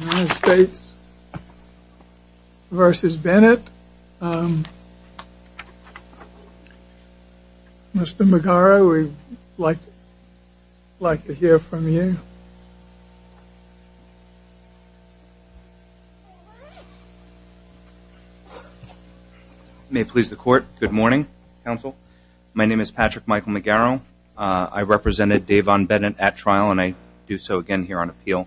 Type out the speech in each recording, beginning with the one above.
United States v. Bennett. Mr. McGarrow, we'd like to hear from you. May it please the court. Good morning, counsel. My name is Patrick Michael McGarrow. I represented Davon Bennett at trial, and I do so again here on appeal.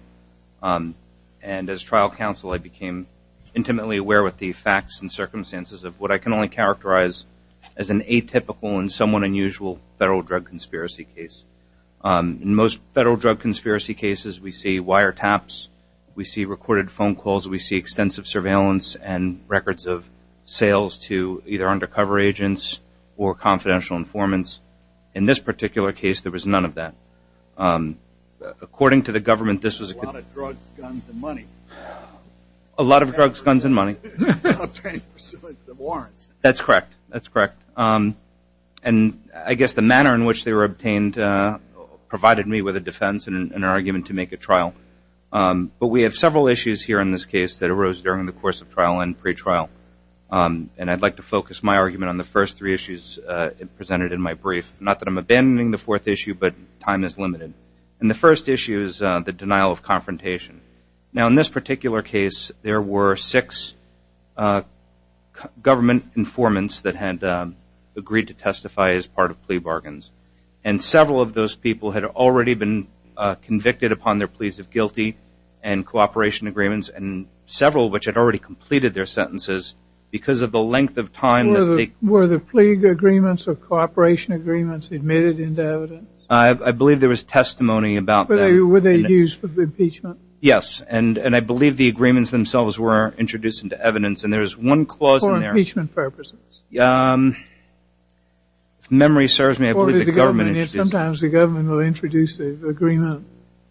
And as trial counsel, I became intimately aware with the facts and circumstances of what I can only characterize as an atypical and somewhat unusual federal drug conspiracy case. In most federal drug conspiracy cases, we see wiretaps, we see recorded phone calls, we see extensive surveillance and records of sales to either undercover agents or confidential informants. In this particular case, there was none of that. According to the government, this was a good A lot of drugs, guns, and money. A lot of drugs, guns, and money. And obtaining pursuant to warrants. That's correct. That's correct. And I guess the manner in which they were obtained provided me with a defense and an argument to make a trial. But we have several issues here in this case that arose during the course of trial and pretrial. And I'd like to focus my argument on the first three issues presented in my brief. Not that I'm abandoning the fourth issue, but time is limited. And the first issue is the denial of confrontation. Now, in this particular case, there were six government informants that had agreed to testify as part of plea bargains. And several of those people had already been convicted upon their pleas of guilty and cooperation agreements. And several of which had already completed their sentences. Because of the length of time that they Were the plea agreements or cooperation agreements admitted into evidence? I believe there was testimony about that. Were they used for impeachment? Yes. And I believe the agreements themselves were introduced into evidence. And there's one clause in there For impeachment purposes? If memory serves me, I believe the government Sometimes the government will introduce the agreement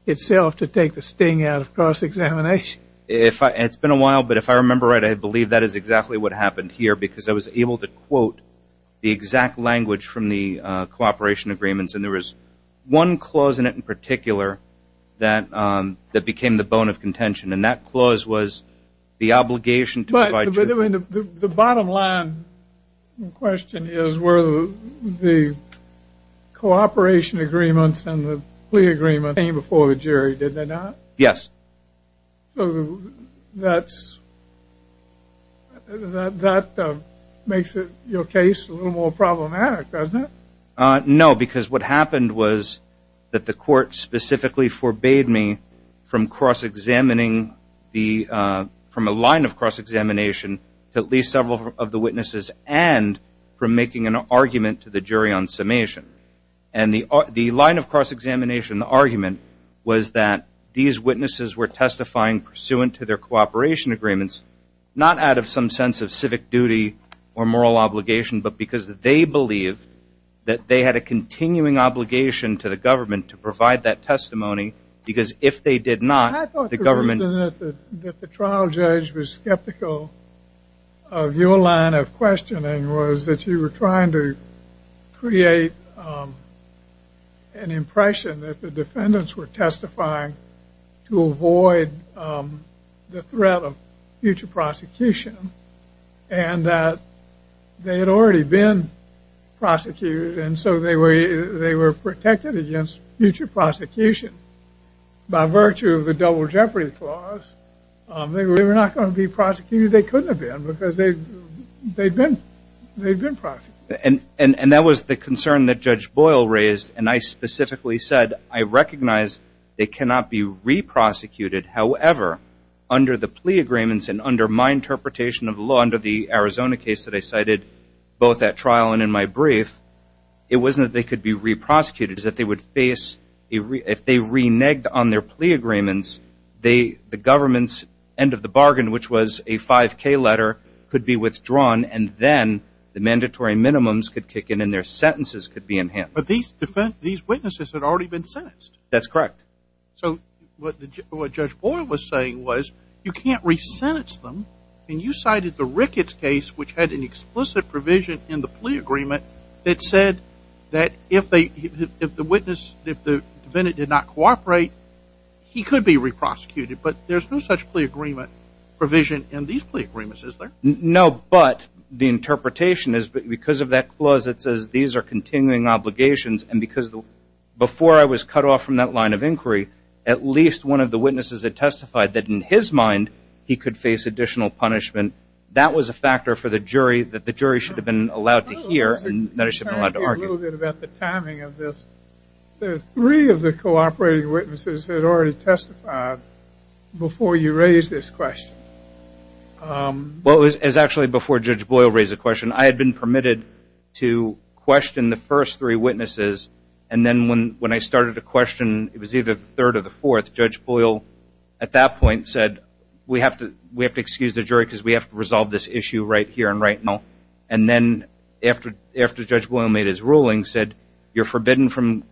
itself to take the sting out of cross-examination. It's been a while, but if I remember right, I believe that is exactly what happened here. Because I was able to quote the exact language from the cooperation agreements. And there was one clause in it in particular that became the bone of contention. And that clause was the obligation to provide jury But the bottom line question is Were the cooperation agreements and the plea agreement came before the jury? Did they not? Yes. So that's That makes your case a little more problematic, doesn't it? No, because what happened was That the court specifically forbade me From cross-examining From a line of cross-examination To at least several of the witnesses And from making an argument to the jury on summation. And the line of cross-examination argument Was that these witnesses were testifying Pursuant to their cooperation agreements Not out of some sense of civic duty or moral obligation But because they believed That they had a continuing obligation to the government To provide that testimony Because if they did not, the government I thought the reason that the trial judge was skeptical Of your line of questioning Was that you were trying to create An impression that the defendants were testifying To avoid the threat of future prosecution And that they had already been prosecuted And so they were protected against future prosecution By virtue of the double jeopardy clause They were not going to be prosecuted They couldn't have been Because they'd been prosecuted And that was the concern that Judge Boyle raised And I specifically said I recognize they cannot be re-prosecuted However, under the plea agreements And under my interpretation of the law Under the Arizona case that I cited Both at trial and in my brief It wasn't that they could be re-prosecuted It was that they would face If they reneged on their plea agreements The government's end of the bargain Which was a 5K letter Could be withdrawn And then the mandatory minimums could kick in And their sentences could be enhanced But these witnesses had already been sentenced That's correct So what Judge Boyle was saying was You can't re-sentence them And you cited the Ricketts case Which had an explicit provision in the plea agreement That said that if the witness If the defendant did not cooperate He could be re-prosecuted But there's no such plea agreement provision In these plea agreements, is there? No, but the interpretation is Because of that clause that says These are continuing obligations And because before I was cut off From that line of inquiry At least one of the witnesses had testified That in his mind He could face additional punishment That was a factor for the jury That the jury should have been allowed to hear And that I should have been allowed to argue Can I ask you a little bit about the timing of this? Three of the cooperating witnesses Had already testified Before you raised this question Well it was actually before Judge Boyle raised the question I had been permitted to question the first three witnesses And then when I started to question It was either the third or the fourth Judge Boyle at that point said We have to excuse the jury Because we have to resolve this issue right here and right now And then after Judge Boyle made his ruling Said you're forbidden from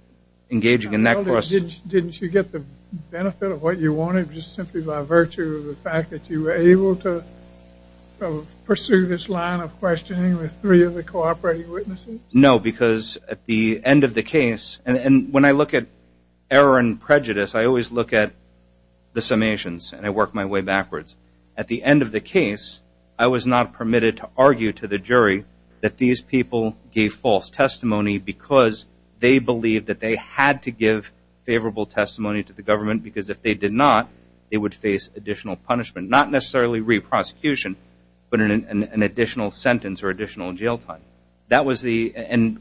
engaging in that question Didn't you get the benefit of what you wanted Just simply by virtue of the fact that you were able to Pursue this line of questioning With three of the cooperating witnesses? No, because at the end of the case And when I look at error and prejudice I always look at the summations And I work my way backwards At the end of the case I was not permitted to argue to the jury That these people gave false testimony Because they believed that they had to give Favorable testimony to the government Because if they did not They would face additional punishment Not necessarily re-prosecution But an additional sentence or additional jail time That was the...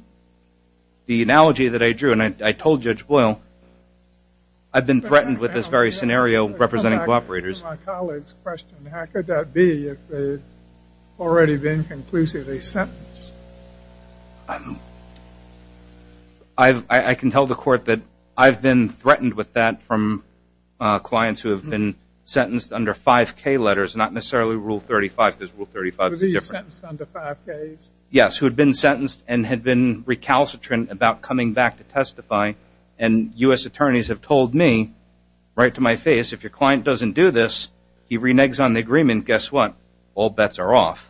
The analogy that I drew And I told Judge Boyle I've been threatened with this very scenario Representing cooperators How could that be If they've already been conclusively sentenced? I can tell the court that I've been threatened with that From clients who have been Sentenced under 5K letters Not necessarily Rule 35 Because Rule 35 is different Yes, who had been sentenced And had been recalcitrant About coming back to testify And U.S. attorneys have told me Right to my face If your client doesn't do this He reneges on the agreement Guess what? All bets are off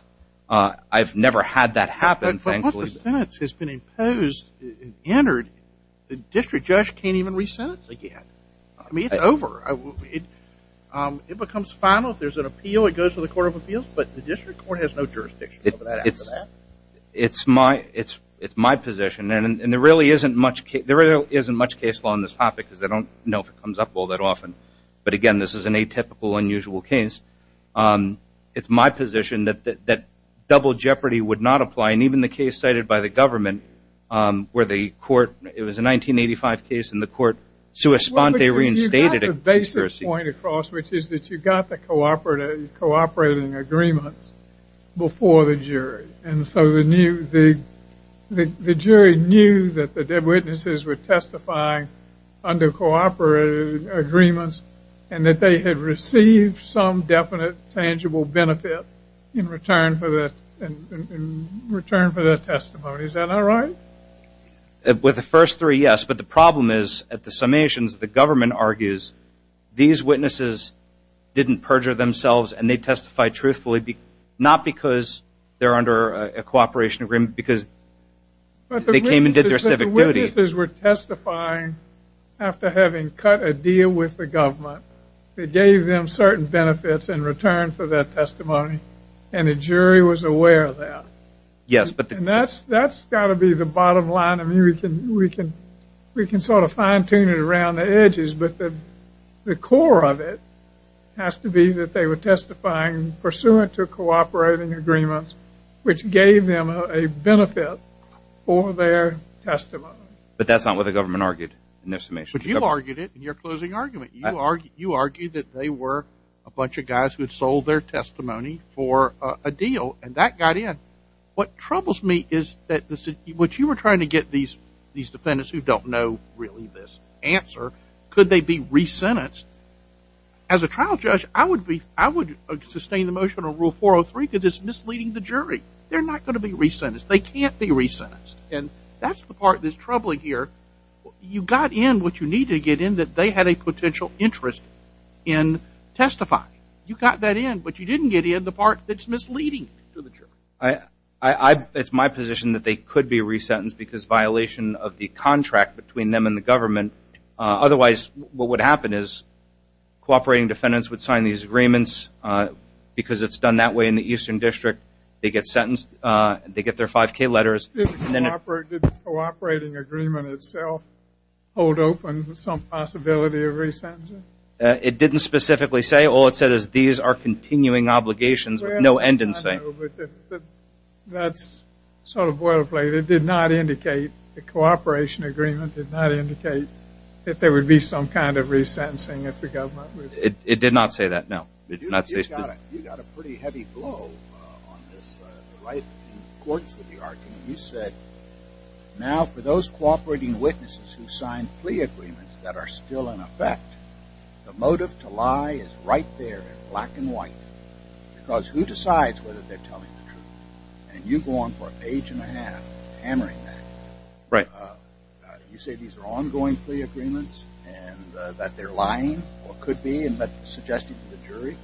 I've never had that happen Once the sentence has been imposed And entered The district judge can't even re-sentence again It's over It becomes final If there's an appeal It goes to the Court of Appeals But the district court has no jurisdiction It's my position And there really isn't much case law On this topic Because I don't know if it comes up all that often But again, this is an atypical, unusual case It's my position That double jeopardy would not apply And even the case cited by the government Where the court It was a 1985 case And the court sui sponte reinstated it You've got the basic point across Which is that you've got the cooperating Agreements Before the jury And so the jury knew That the witnesses were testifying Under cooperating Agreements And that they had received Some definite, tangible benefit In return for the In return for the testimony Is that not right? With the first three, yes But the problem is, at the summations The government argues These witnesses didn't perjure themselves And they testified truthfully Not because they're under A cooperation agreement Because they came and did their civic duty But the witnesses were testifying After having cut a deal With the government They gave them certain benefits In return for their testimony And the jury was aware of that And that's got to be The bottom line We can sort of fine tune it Around the edges But the core of it Has to be that they were testifying Pursuant to cooperating agreements Which gave them a benefit For their testimony But that's not what the government argued In their summations But you argued it in your closing argument You argued that they were a bunch of guys Who had sold their testimony For a deal And that got in What troubles me is What you were trying to get These defendants who don't know Really this answer Could they be re-sentenced? As a trial judge I would sustain the motion On Rule 403 Because it's misleading the jury They're not going to be re-sentenced They can't be re-sentenced And that's the part that's troubling here You got in what you needed to get in That they had a potential interest In testifying You got that in But you didn't get in the part That's misleading It's my position that they could be re-sentenced Because violation of the contract Between them and the government Otherwise What would happen is Cooperating defendants would sign these agreements Because it's done that way in the Eastern District They get sentenced They get their 5K letters Did the cooperating agreement itself Hold open Some possibility of re-sentencing? It didn't specifically say All it said is these are continuing obligations With no end in sight That's sort of boilerplate It did not indicate The cooperation agreement Did not indicate That there would be some kind of re-sentencing It did not say that No You got a pretty heavy blow On this You said Now for those cooperating witnesses Who signed plea agreements That are still in effect The motive to lie is right there In black and white Because who decides whether they're telling the truth And you go on for an age and a half Hammering that You say these are ongoing plea agreements And that they're lying Or could be Suggesting to the jury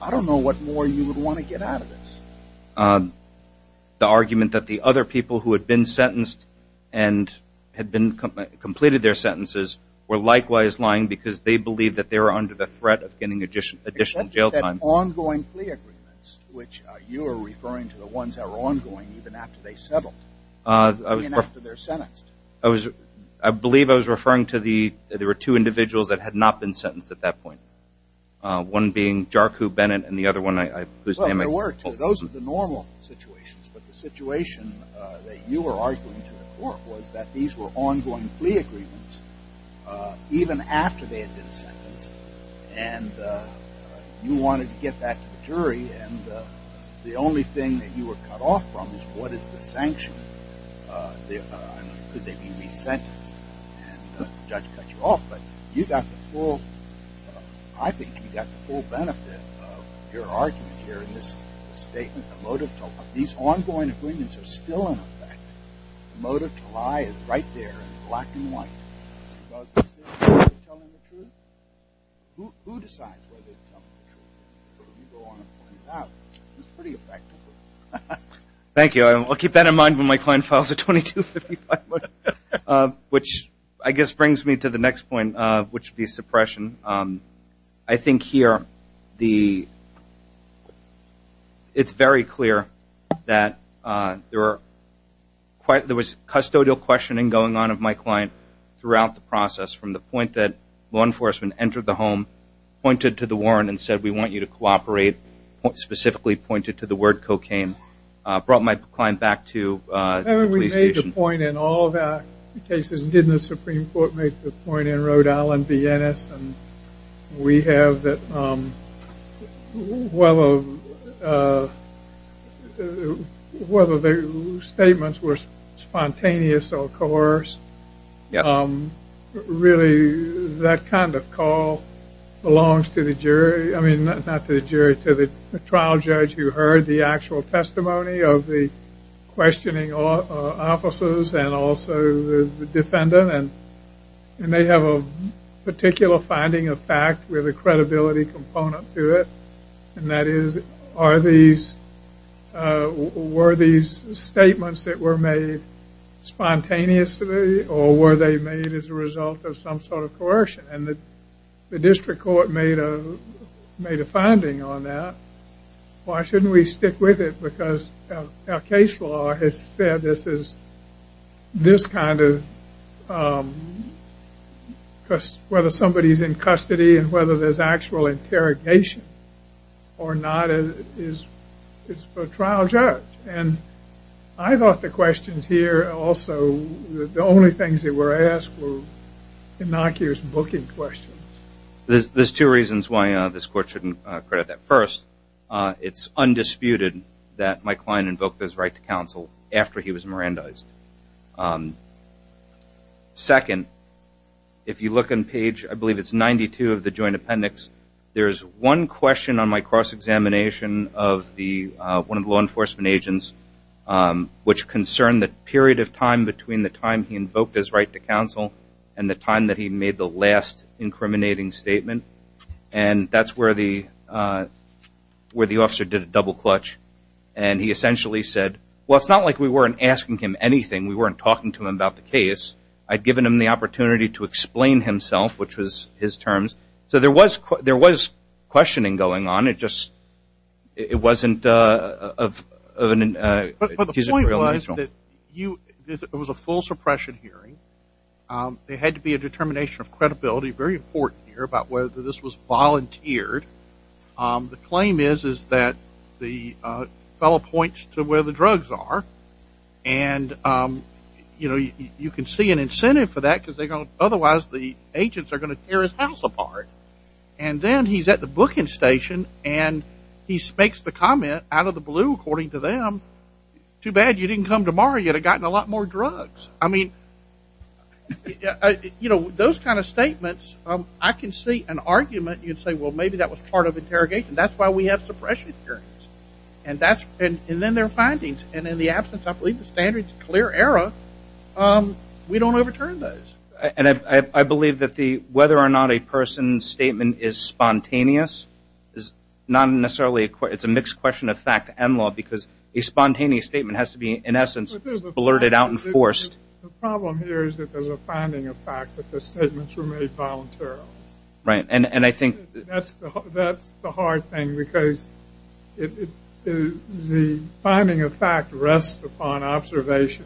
I don't know what more you would want to get out of this The argument that the other people Who had been sentenced And had been Completed their sentences Were likewise lying because they believed That they were under the threat of getting additional jail time Ongoing plea agreements Which you are referring to The ones that were ongoing even after they settled Even after they're sentenced I was I believe I was referring to the There were two individuals that had not been sentenced at that point One being Jarku Bennett And the other one Those are the normal situations But the situation that you were arguing To the court was that these were Ongoing plea agreements Even after they had been sentenced And You wanted to get that To the jury And the only thing that you were cut off from Is what is the sanction Could they be resentenced And the judge cut you off But you got the full I think you got the full benefit Of your argument here In this statement These ongoing agreements are still in effect The motive to lie Is right there in black and white Because Who decides Whether to tell the truth Before you go on and find out It's pretty effective Thank you I'll keep that in mind when my client files a 2255 Which I guess Brings me to the next point Which would be suppression I think here The It's very clear That there were There was custodial questioning going on In front of my client Throughout the process From the point that law enforcement Entered the home Pointed to the warrant And said we want you to cooperate Specifically pointed to the word cocaine Brought my client back to the police station We made the point in all of our cases Didn't the Supreme Court make the point In Rhode Island, Viennese We have Whether Whether the statements Were spontaneous or coerced Really That kind of call Belongs to the jury I mean not to the jury To the trial judge who heard the actual testimony Of the Questioning officers And also the defendant And they have a Particular finding of fact With a credibility component to it And that is Are these Were these Statements that were made Spontaneously Or were they made as a result Of some sort of coercion And the district court made A finding on that Why shouldn't we stick with it Because our case law Has said this is This kind of Whether Somebody is in custody And whether there is actual interrogation Or not It's for a trial judge And I thought the questions here Also The only things that were asked Were innocuous booking questions There's two reasons why this court Shouldn't credit that First, it's undisputed That Mike Klein invoked his right to counsel After he was Mirandized Second If you look on page I believe it's 92 of the joint appendix There's one question on my cross Examination of the One of the law enforcement agents Which concerned the period Of time between the time he invoked his right To counsel and the time that he Made the last incriminating statement And that's where the Where the officer Did a double clutch and he Essentially said well it's not like we weren't Asking him anything we weren't talking to him About the case I'd given him the opportunity To explain himself which was His terms so there was Questioning going on It wasn't Of an But the point was that It was a full suppression hearing There had to be a determination Of credibility, very important here About whether this was volunteered The claim is that The fellow points To where the drugs are And You can see an incentive for that Because otherwise the agents Are going to tear his house apart And then he's at the booking station And he makes the comment Out of the blue according to them Too bad you didn't come tomorrow You'd have gotten a lot more drugs I mean Those kind of statements I can see an argument you'd say well Maybe that was part of interrogation That's why we have suppression hearings And then their findings And in the absence I believe the standards Clear error We don't overturn those I believe that the whether or not a Person's statement is spontaneous Is not necessarily It's a mixed question of fact and law Because a spontaneous statement has to be In essence blurted out and forced The problem here is that there's a Finding of fact that the statements were made Voluntarily And I think That's the hard thing because The finding of fact Rests upon observation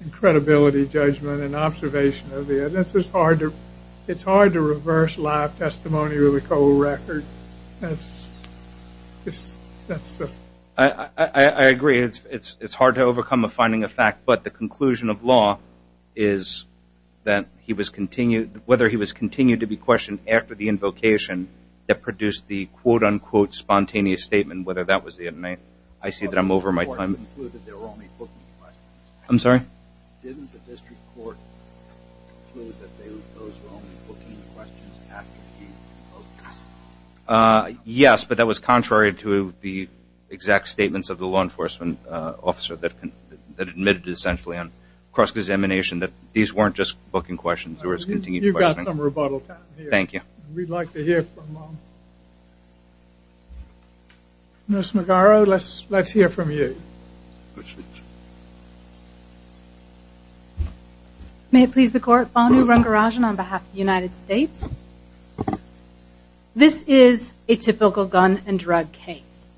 And credibility judgment And observation of the evidence It's hard to reverse Live testimony with a cold record That's That's I agree it's hard to Overcome a finding of fact but the conclusion Of law is That whether he was Continued to be questioned after the invocation That produced the quote unquote Spontaneous statement whether that was the I'm I'm sorry Yes but that was contrary To the exact statements Of the law enforcement officer That admitted essentially on Cross-examination that these weren't just Booking questions Thank you We'd like to hear From Nurse Let's hear from you May it please the court On behalf of the United States This is A typical gun and drug case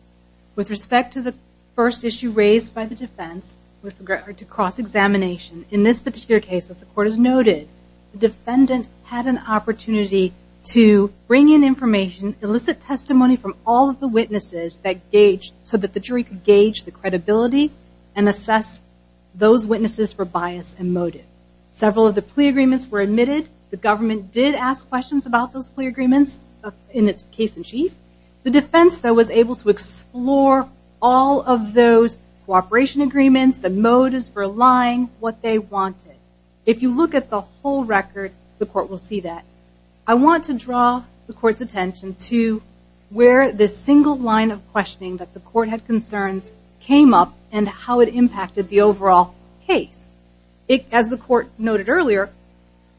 With respect to the First issue raised by the defense With regard to cross-examination In this particular case as the court has noted The defendant had an opportunity To bring in information Illicit testimony from all of the witnesses That gauged so that the jury Could gauge the credibility And assess those witnesses For bias and motive Several of the plea agreements were admitted The government did ask questions about those plea agreements In its case in chief The defense though was able to explore All of those Cooperation agreements the motives For lying what they wanted If you look at the whole record The court will see that I want to draw the court's attention to Where this single line Of questioning that the court had concerns Came up and how it impacted The overall case As the court noted earlier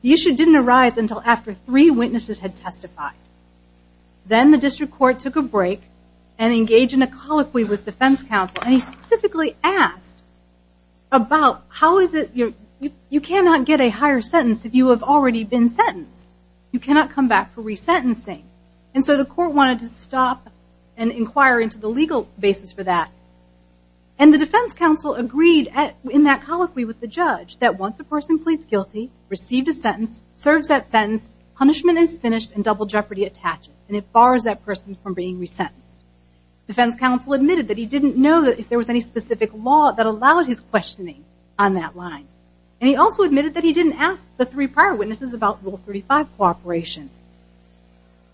The issue didn't arise until after Three witnesses had testified Then the district court took a break And engaged in a colloquy With defense counsel and he specifically Asked about How is it You cannot get a higher sentence If you have already been sentenced You cannot come back for resentencing And so the court wanted to stop And inquire into the legal Basis for that And the defense counsel agreed In that colloquy with the judge That once a person pleads guilty Received a sentence, serves that sentence Punishment is finished and double jeopardy attaches And it bars that person from being resentenced Defense counsel admitted that he didn't know That if there was any specific law That allowed his questioning on that line And he also admitted that he didn't Ask the three prior witnesses about Rule 35 cooperation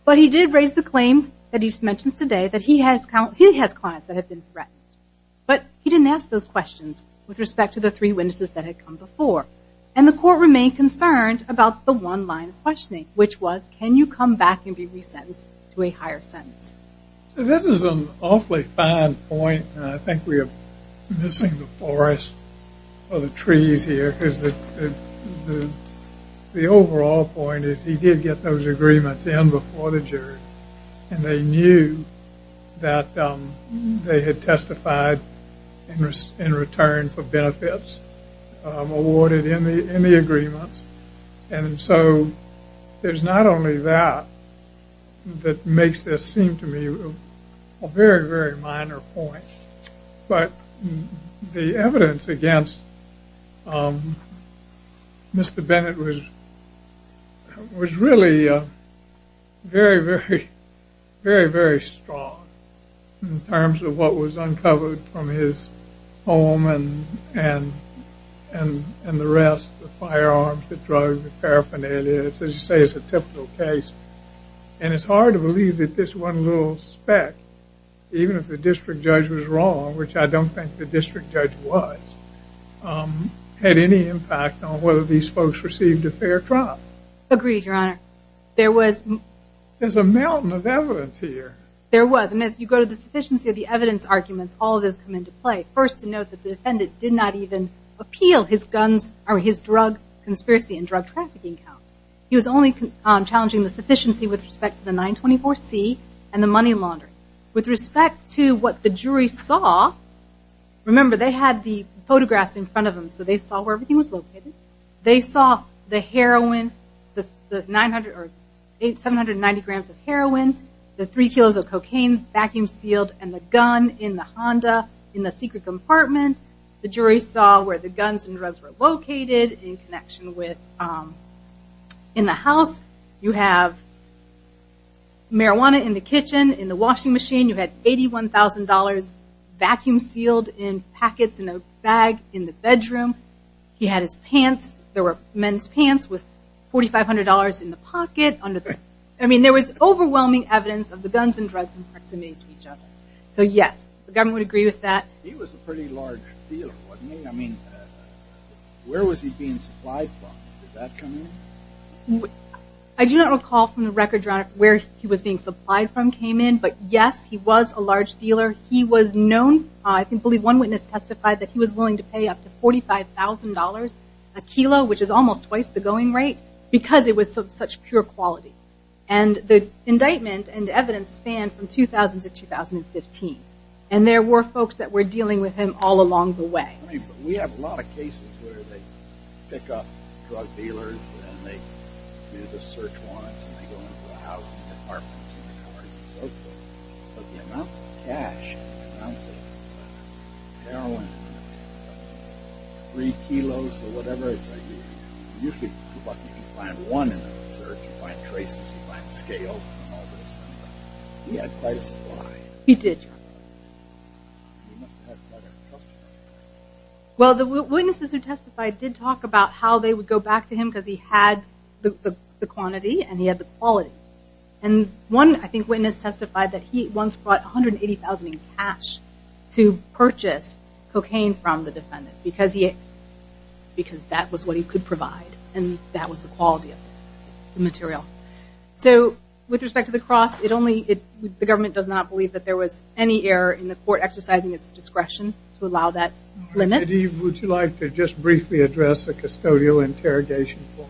But he did raise the claim That he mentioned today that he has Clients that have been threatened But he didn't ask those questions With respect to the three witnesses that had come before And the court remained concerned About the one line of questioning Which was can you come back and be resentenced To a higher sentence This is an awfully fine point And I think we are missing The forest or the trees Here because the The overall point Is he did get those agreements in Before the jury and they knew That They had testified In return for benefits Awarded in the In the agreements And so there's not only That That makes this seem to me A very, very minor point But The evidence against Mr. Bennett was Was really Very, very Very, very strong In terms of what was uncovered From his home And The rest, the firearms, the drugs The paraphernalia, as you say It's a typical case And it's hard to believe That this one little speck Even if the district judge was wrong Which I don't think the district judge was Had any Impact on whether these folks received A fair trial Agreed, your honor There's a mountain of evidence here There was, and as you go to the sufficiency of the evidence Arguments, all of those come into play First to note that the defendant did not even Appeal his guns or his drug Conspiracy and drug trafficking counts He was only challenging the sufficiency With respect to the 924C And the money laundering With respect to what the jury saw Remember they had the Photographs in front of them So they saw where everything was located They saw the heroin The 790 grams of heroin The three kilos of cocaine Vacuum sealed And the gun in the Honda In the secret compartment The jury saw where the guns and drugs were located In connection with In the house You have Marijuana in the kitchen, in the washing machine You had $81,000 Vacuum sealed in packets In a bag in the bedroom He had his pants There were men's pants with $4,500 In the pocket I mean there was overwhelming evidence of the guns And drugs in proximity to each other So yes, the government would agree with that He was a pretty large dealer I mean Where was he being supplied from? Did that come in? I do not recall from the record Where he was being supplied from came in But yes, he was a large dealer He was known I believe one witness testified that he was willing to pay Up to $45,000 a kilo Which is almost twice the going rate Because it was of such pure quality And the indictment And evidence spanned from 2000 to 2015 And there were folks That were dealing with him all along the way We have a lot of cases where they Pick up drug dealers And they do the search warrants And they go into the houses And the apartments and the cars and so forth But the amounts of cash The amounts of heroin Three kilos Or whatever it's like Usually you can find one in the research You find traces You find scales He had quite a supply He did Well the witnesses who testified Did talk about how they would go back to him Because he had the quantity And he had the quality And one I think witness testified That he once brought $180,000 in cash To purchase Cocaine from the defendant Because that was what he could provide And that was the quality Of the material So with respect to the cross The government does not believe That there was any error in the court Exercising its discretion To allow that limit Would you like to just briefly address The custodial interrogation court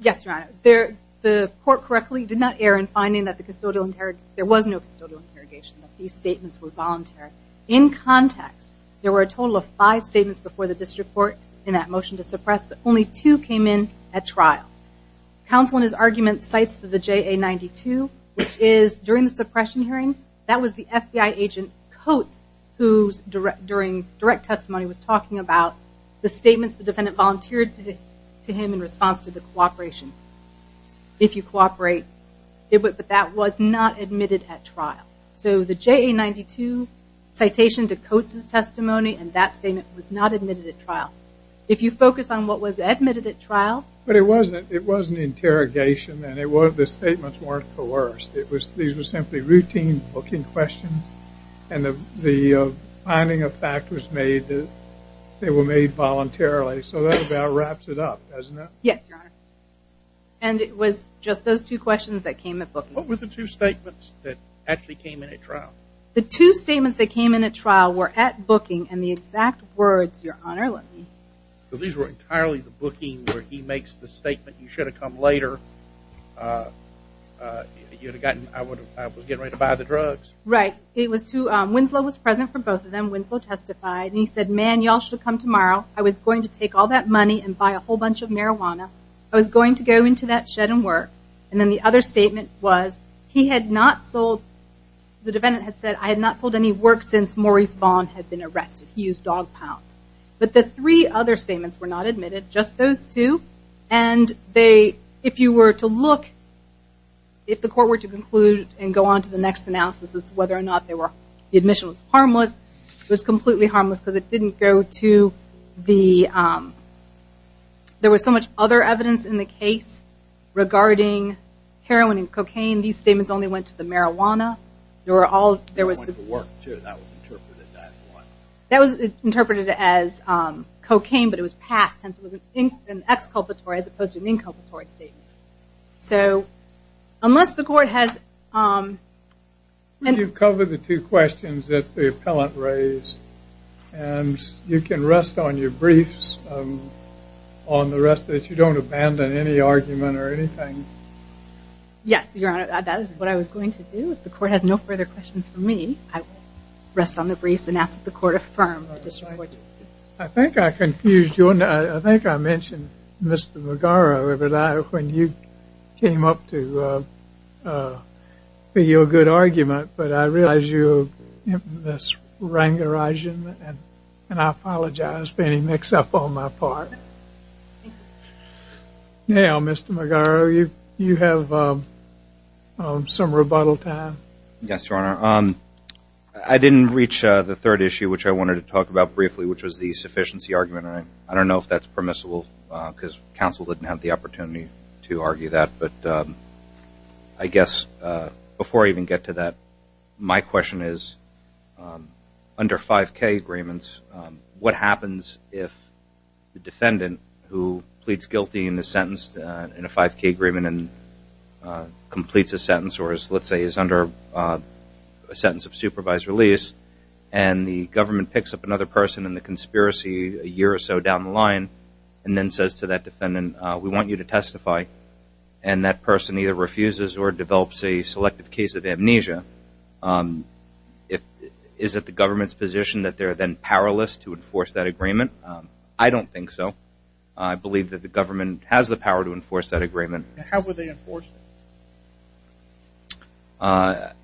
Yes your honor The court correctly did not err In finding that there was no custodial interrogation These statements were voluntary In context there were a total of five statements Before the district court In that motion to suppress But only two came in at trial Counsel in his argument Cites the JA-92 Which is during the suppression hearing That was the FBI agent Coates Who during direct testimony Was talking about the statements The defendant volunteered to him In response to the cooperation If you cooperate But that was not admitted at trial So the JA-92 Citation to Coates' testimony And that statement was not admitted at trial If you focus on what was It was an interrogation And the statements weren't coerced These were simply routine booking questions And the Finding of fact was made That they were made voluntarily So that about wraps it up Yes your honor And it was just those two questions that came up What were the two statements That actually came in at trial The two statements that came in at trial Were at booking and the exact words Your honor let me You should have come later You would have gotten I was getting ready to buy the drugs Right it was to Winslow was present for both of them Winslow testified And he said man y'all should come tomorrow I was going to take all that money And buy a whole bunch of marijuana I was going to go into that shed and work And then the other statement was He had not sold The defendant had said I had not sold any work Since Maurice Vaughn had been arrested He used dog pound But the three other statements were not admitted Just those two And if you were to look If the court were to conclude And go on to the next analysis Whether or not the admission was harmless It was completely harmless Because it didn't go to The There was so much other evidence in the case Regarding heroin and cocaine These statements only went to the marijuana There were all That was interpreted as Cocaine but it was passed It was an exculpatory as opposed to an inculpatory So Unless the court has And you've covered The two questions that the appellant raised And You can rest on your briefs On the rest of it You don't abandon any argument or anything Yes your honor That is what I was going to do If the court has no further questions for me I will rest on the briefs And ask that the court affirm I think I confused you I think I mentioned Mr. McGarrow When you Came up to Be your good argument But I realize you Are rangerizing And I apologize For any mix up on my part Now Mr. McGarrow You have Some rebuttal time Yes your honor I didn't reach the third issue which I wanted To talk about briefly which was the sufficiency Argument and I don't know if that's permissible Because counsel didn't have the opportunity To argue that but I guess Before I even get to that My question is Under 5k agreements What happens if The defendant who pleads guilty In the sentence in a 5k agreement And Let's say is under A sentence of supervised release And the government picks up another person In the conspiracy a year or so down the line And then says to that defendant We want you to testify And that person either refuses Or develops a selective case of amnesia Is it the government's position That they are then powerless to enforce that agreement I don't think so I believe that the government has the power To enforce that agreement How would they enforce it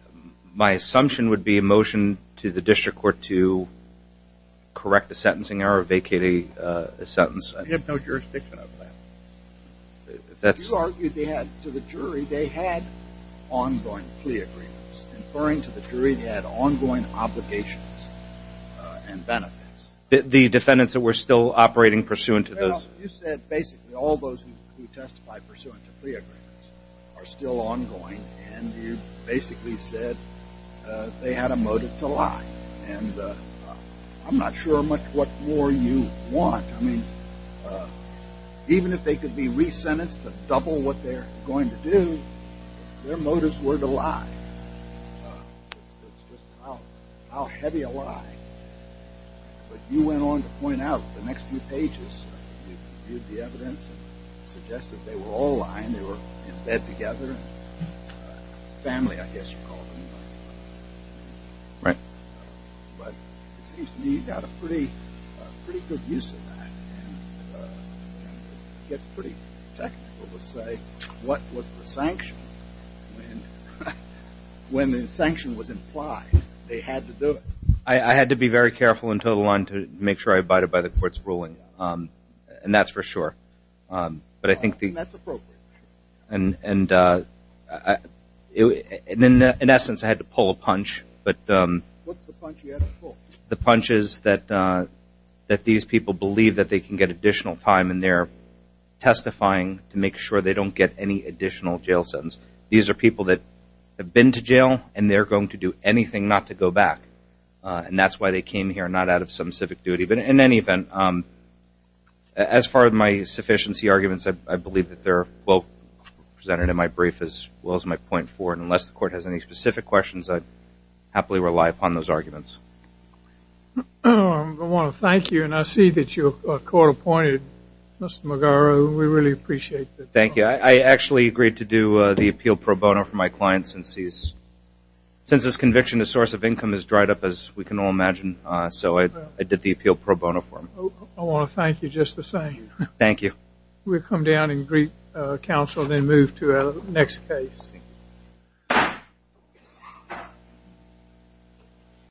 My assumption would be A motion to the district court to Correct the sentencing error Vacate a sentence You have no jurisdiction over that You argued they had To the jury they had Ongoing plea agreements Inferring to the jury they had ongoing obligations And benefits The defendants that were still operating Pursuant to those You said basically all those Who testified pursuant to plea agreements Are still ongoing And you basically said They had a motive to lie And I'm not sure What more you want I mean Even if they could be re-sentenced To double what they are going to do Their motives were to lie It's just how heavy a lie But you went on to point out The next few pages You viewed the evidence Suggested they were all lying They were in bed together Family I guess you called them Right But it seems to me You got a pretty good use of that It's pretty technical to say What was the sanction When the sanction was implied They had to do it I had to be very careful To make sure I abided by the court's ruling And that's for sure And that's appropriate And In essence I had to pull a punch What's the punch you had to pull? The punch is that These people believe they can get additional time And they're testifying To make sure they don't get any additional jail sentence These are people that Have been to jail And they're going to do anything not to go back And that's why they came here Not out of some civic duty But in any event As far as my sufficiency arguments I believe that they're well presented In my brief as well as my point four And unless the court has any specific questions I'd happily rely upon those arguments I want to thank you And I see that your court appointed Mr. Magara We really appreciate that Thank you I actually agreed to do the appeal pro bono for my client Since his conviction As source of income is dried up As we can all imagine So I did the appeal pro bono for him I want to thank you just the same Thank you We'll come down and greet counsel Then move to our next case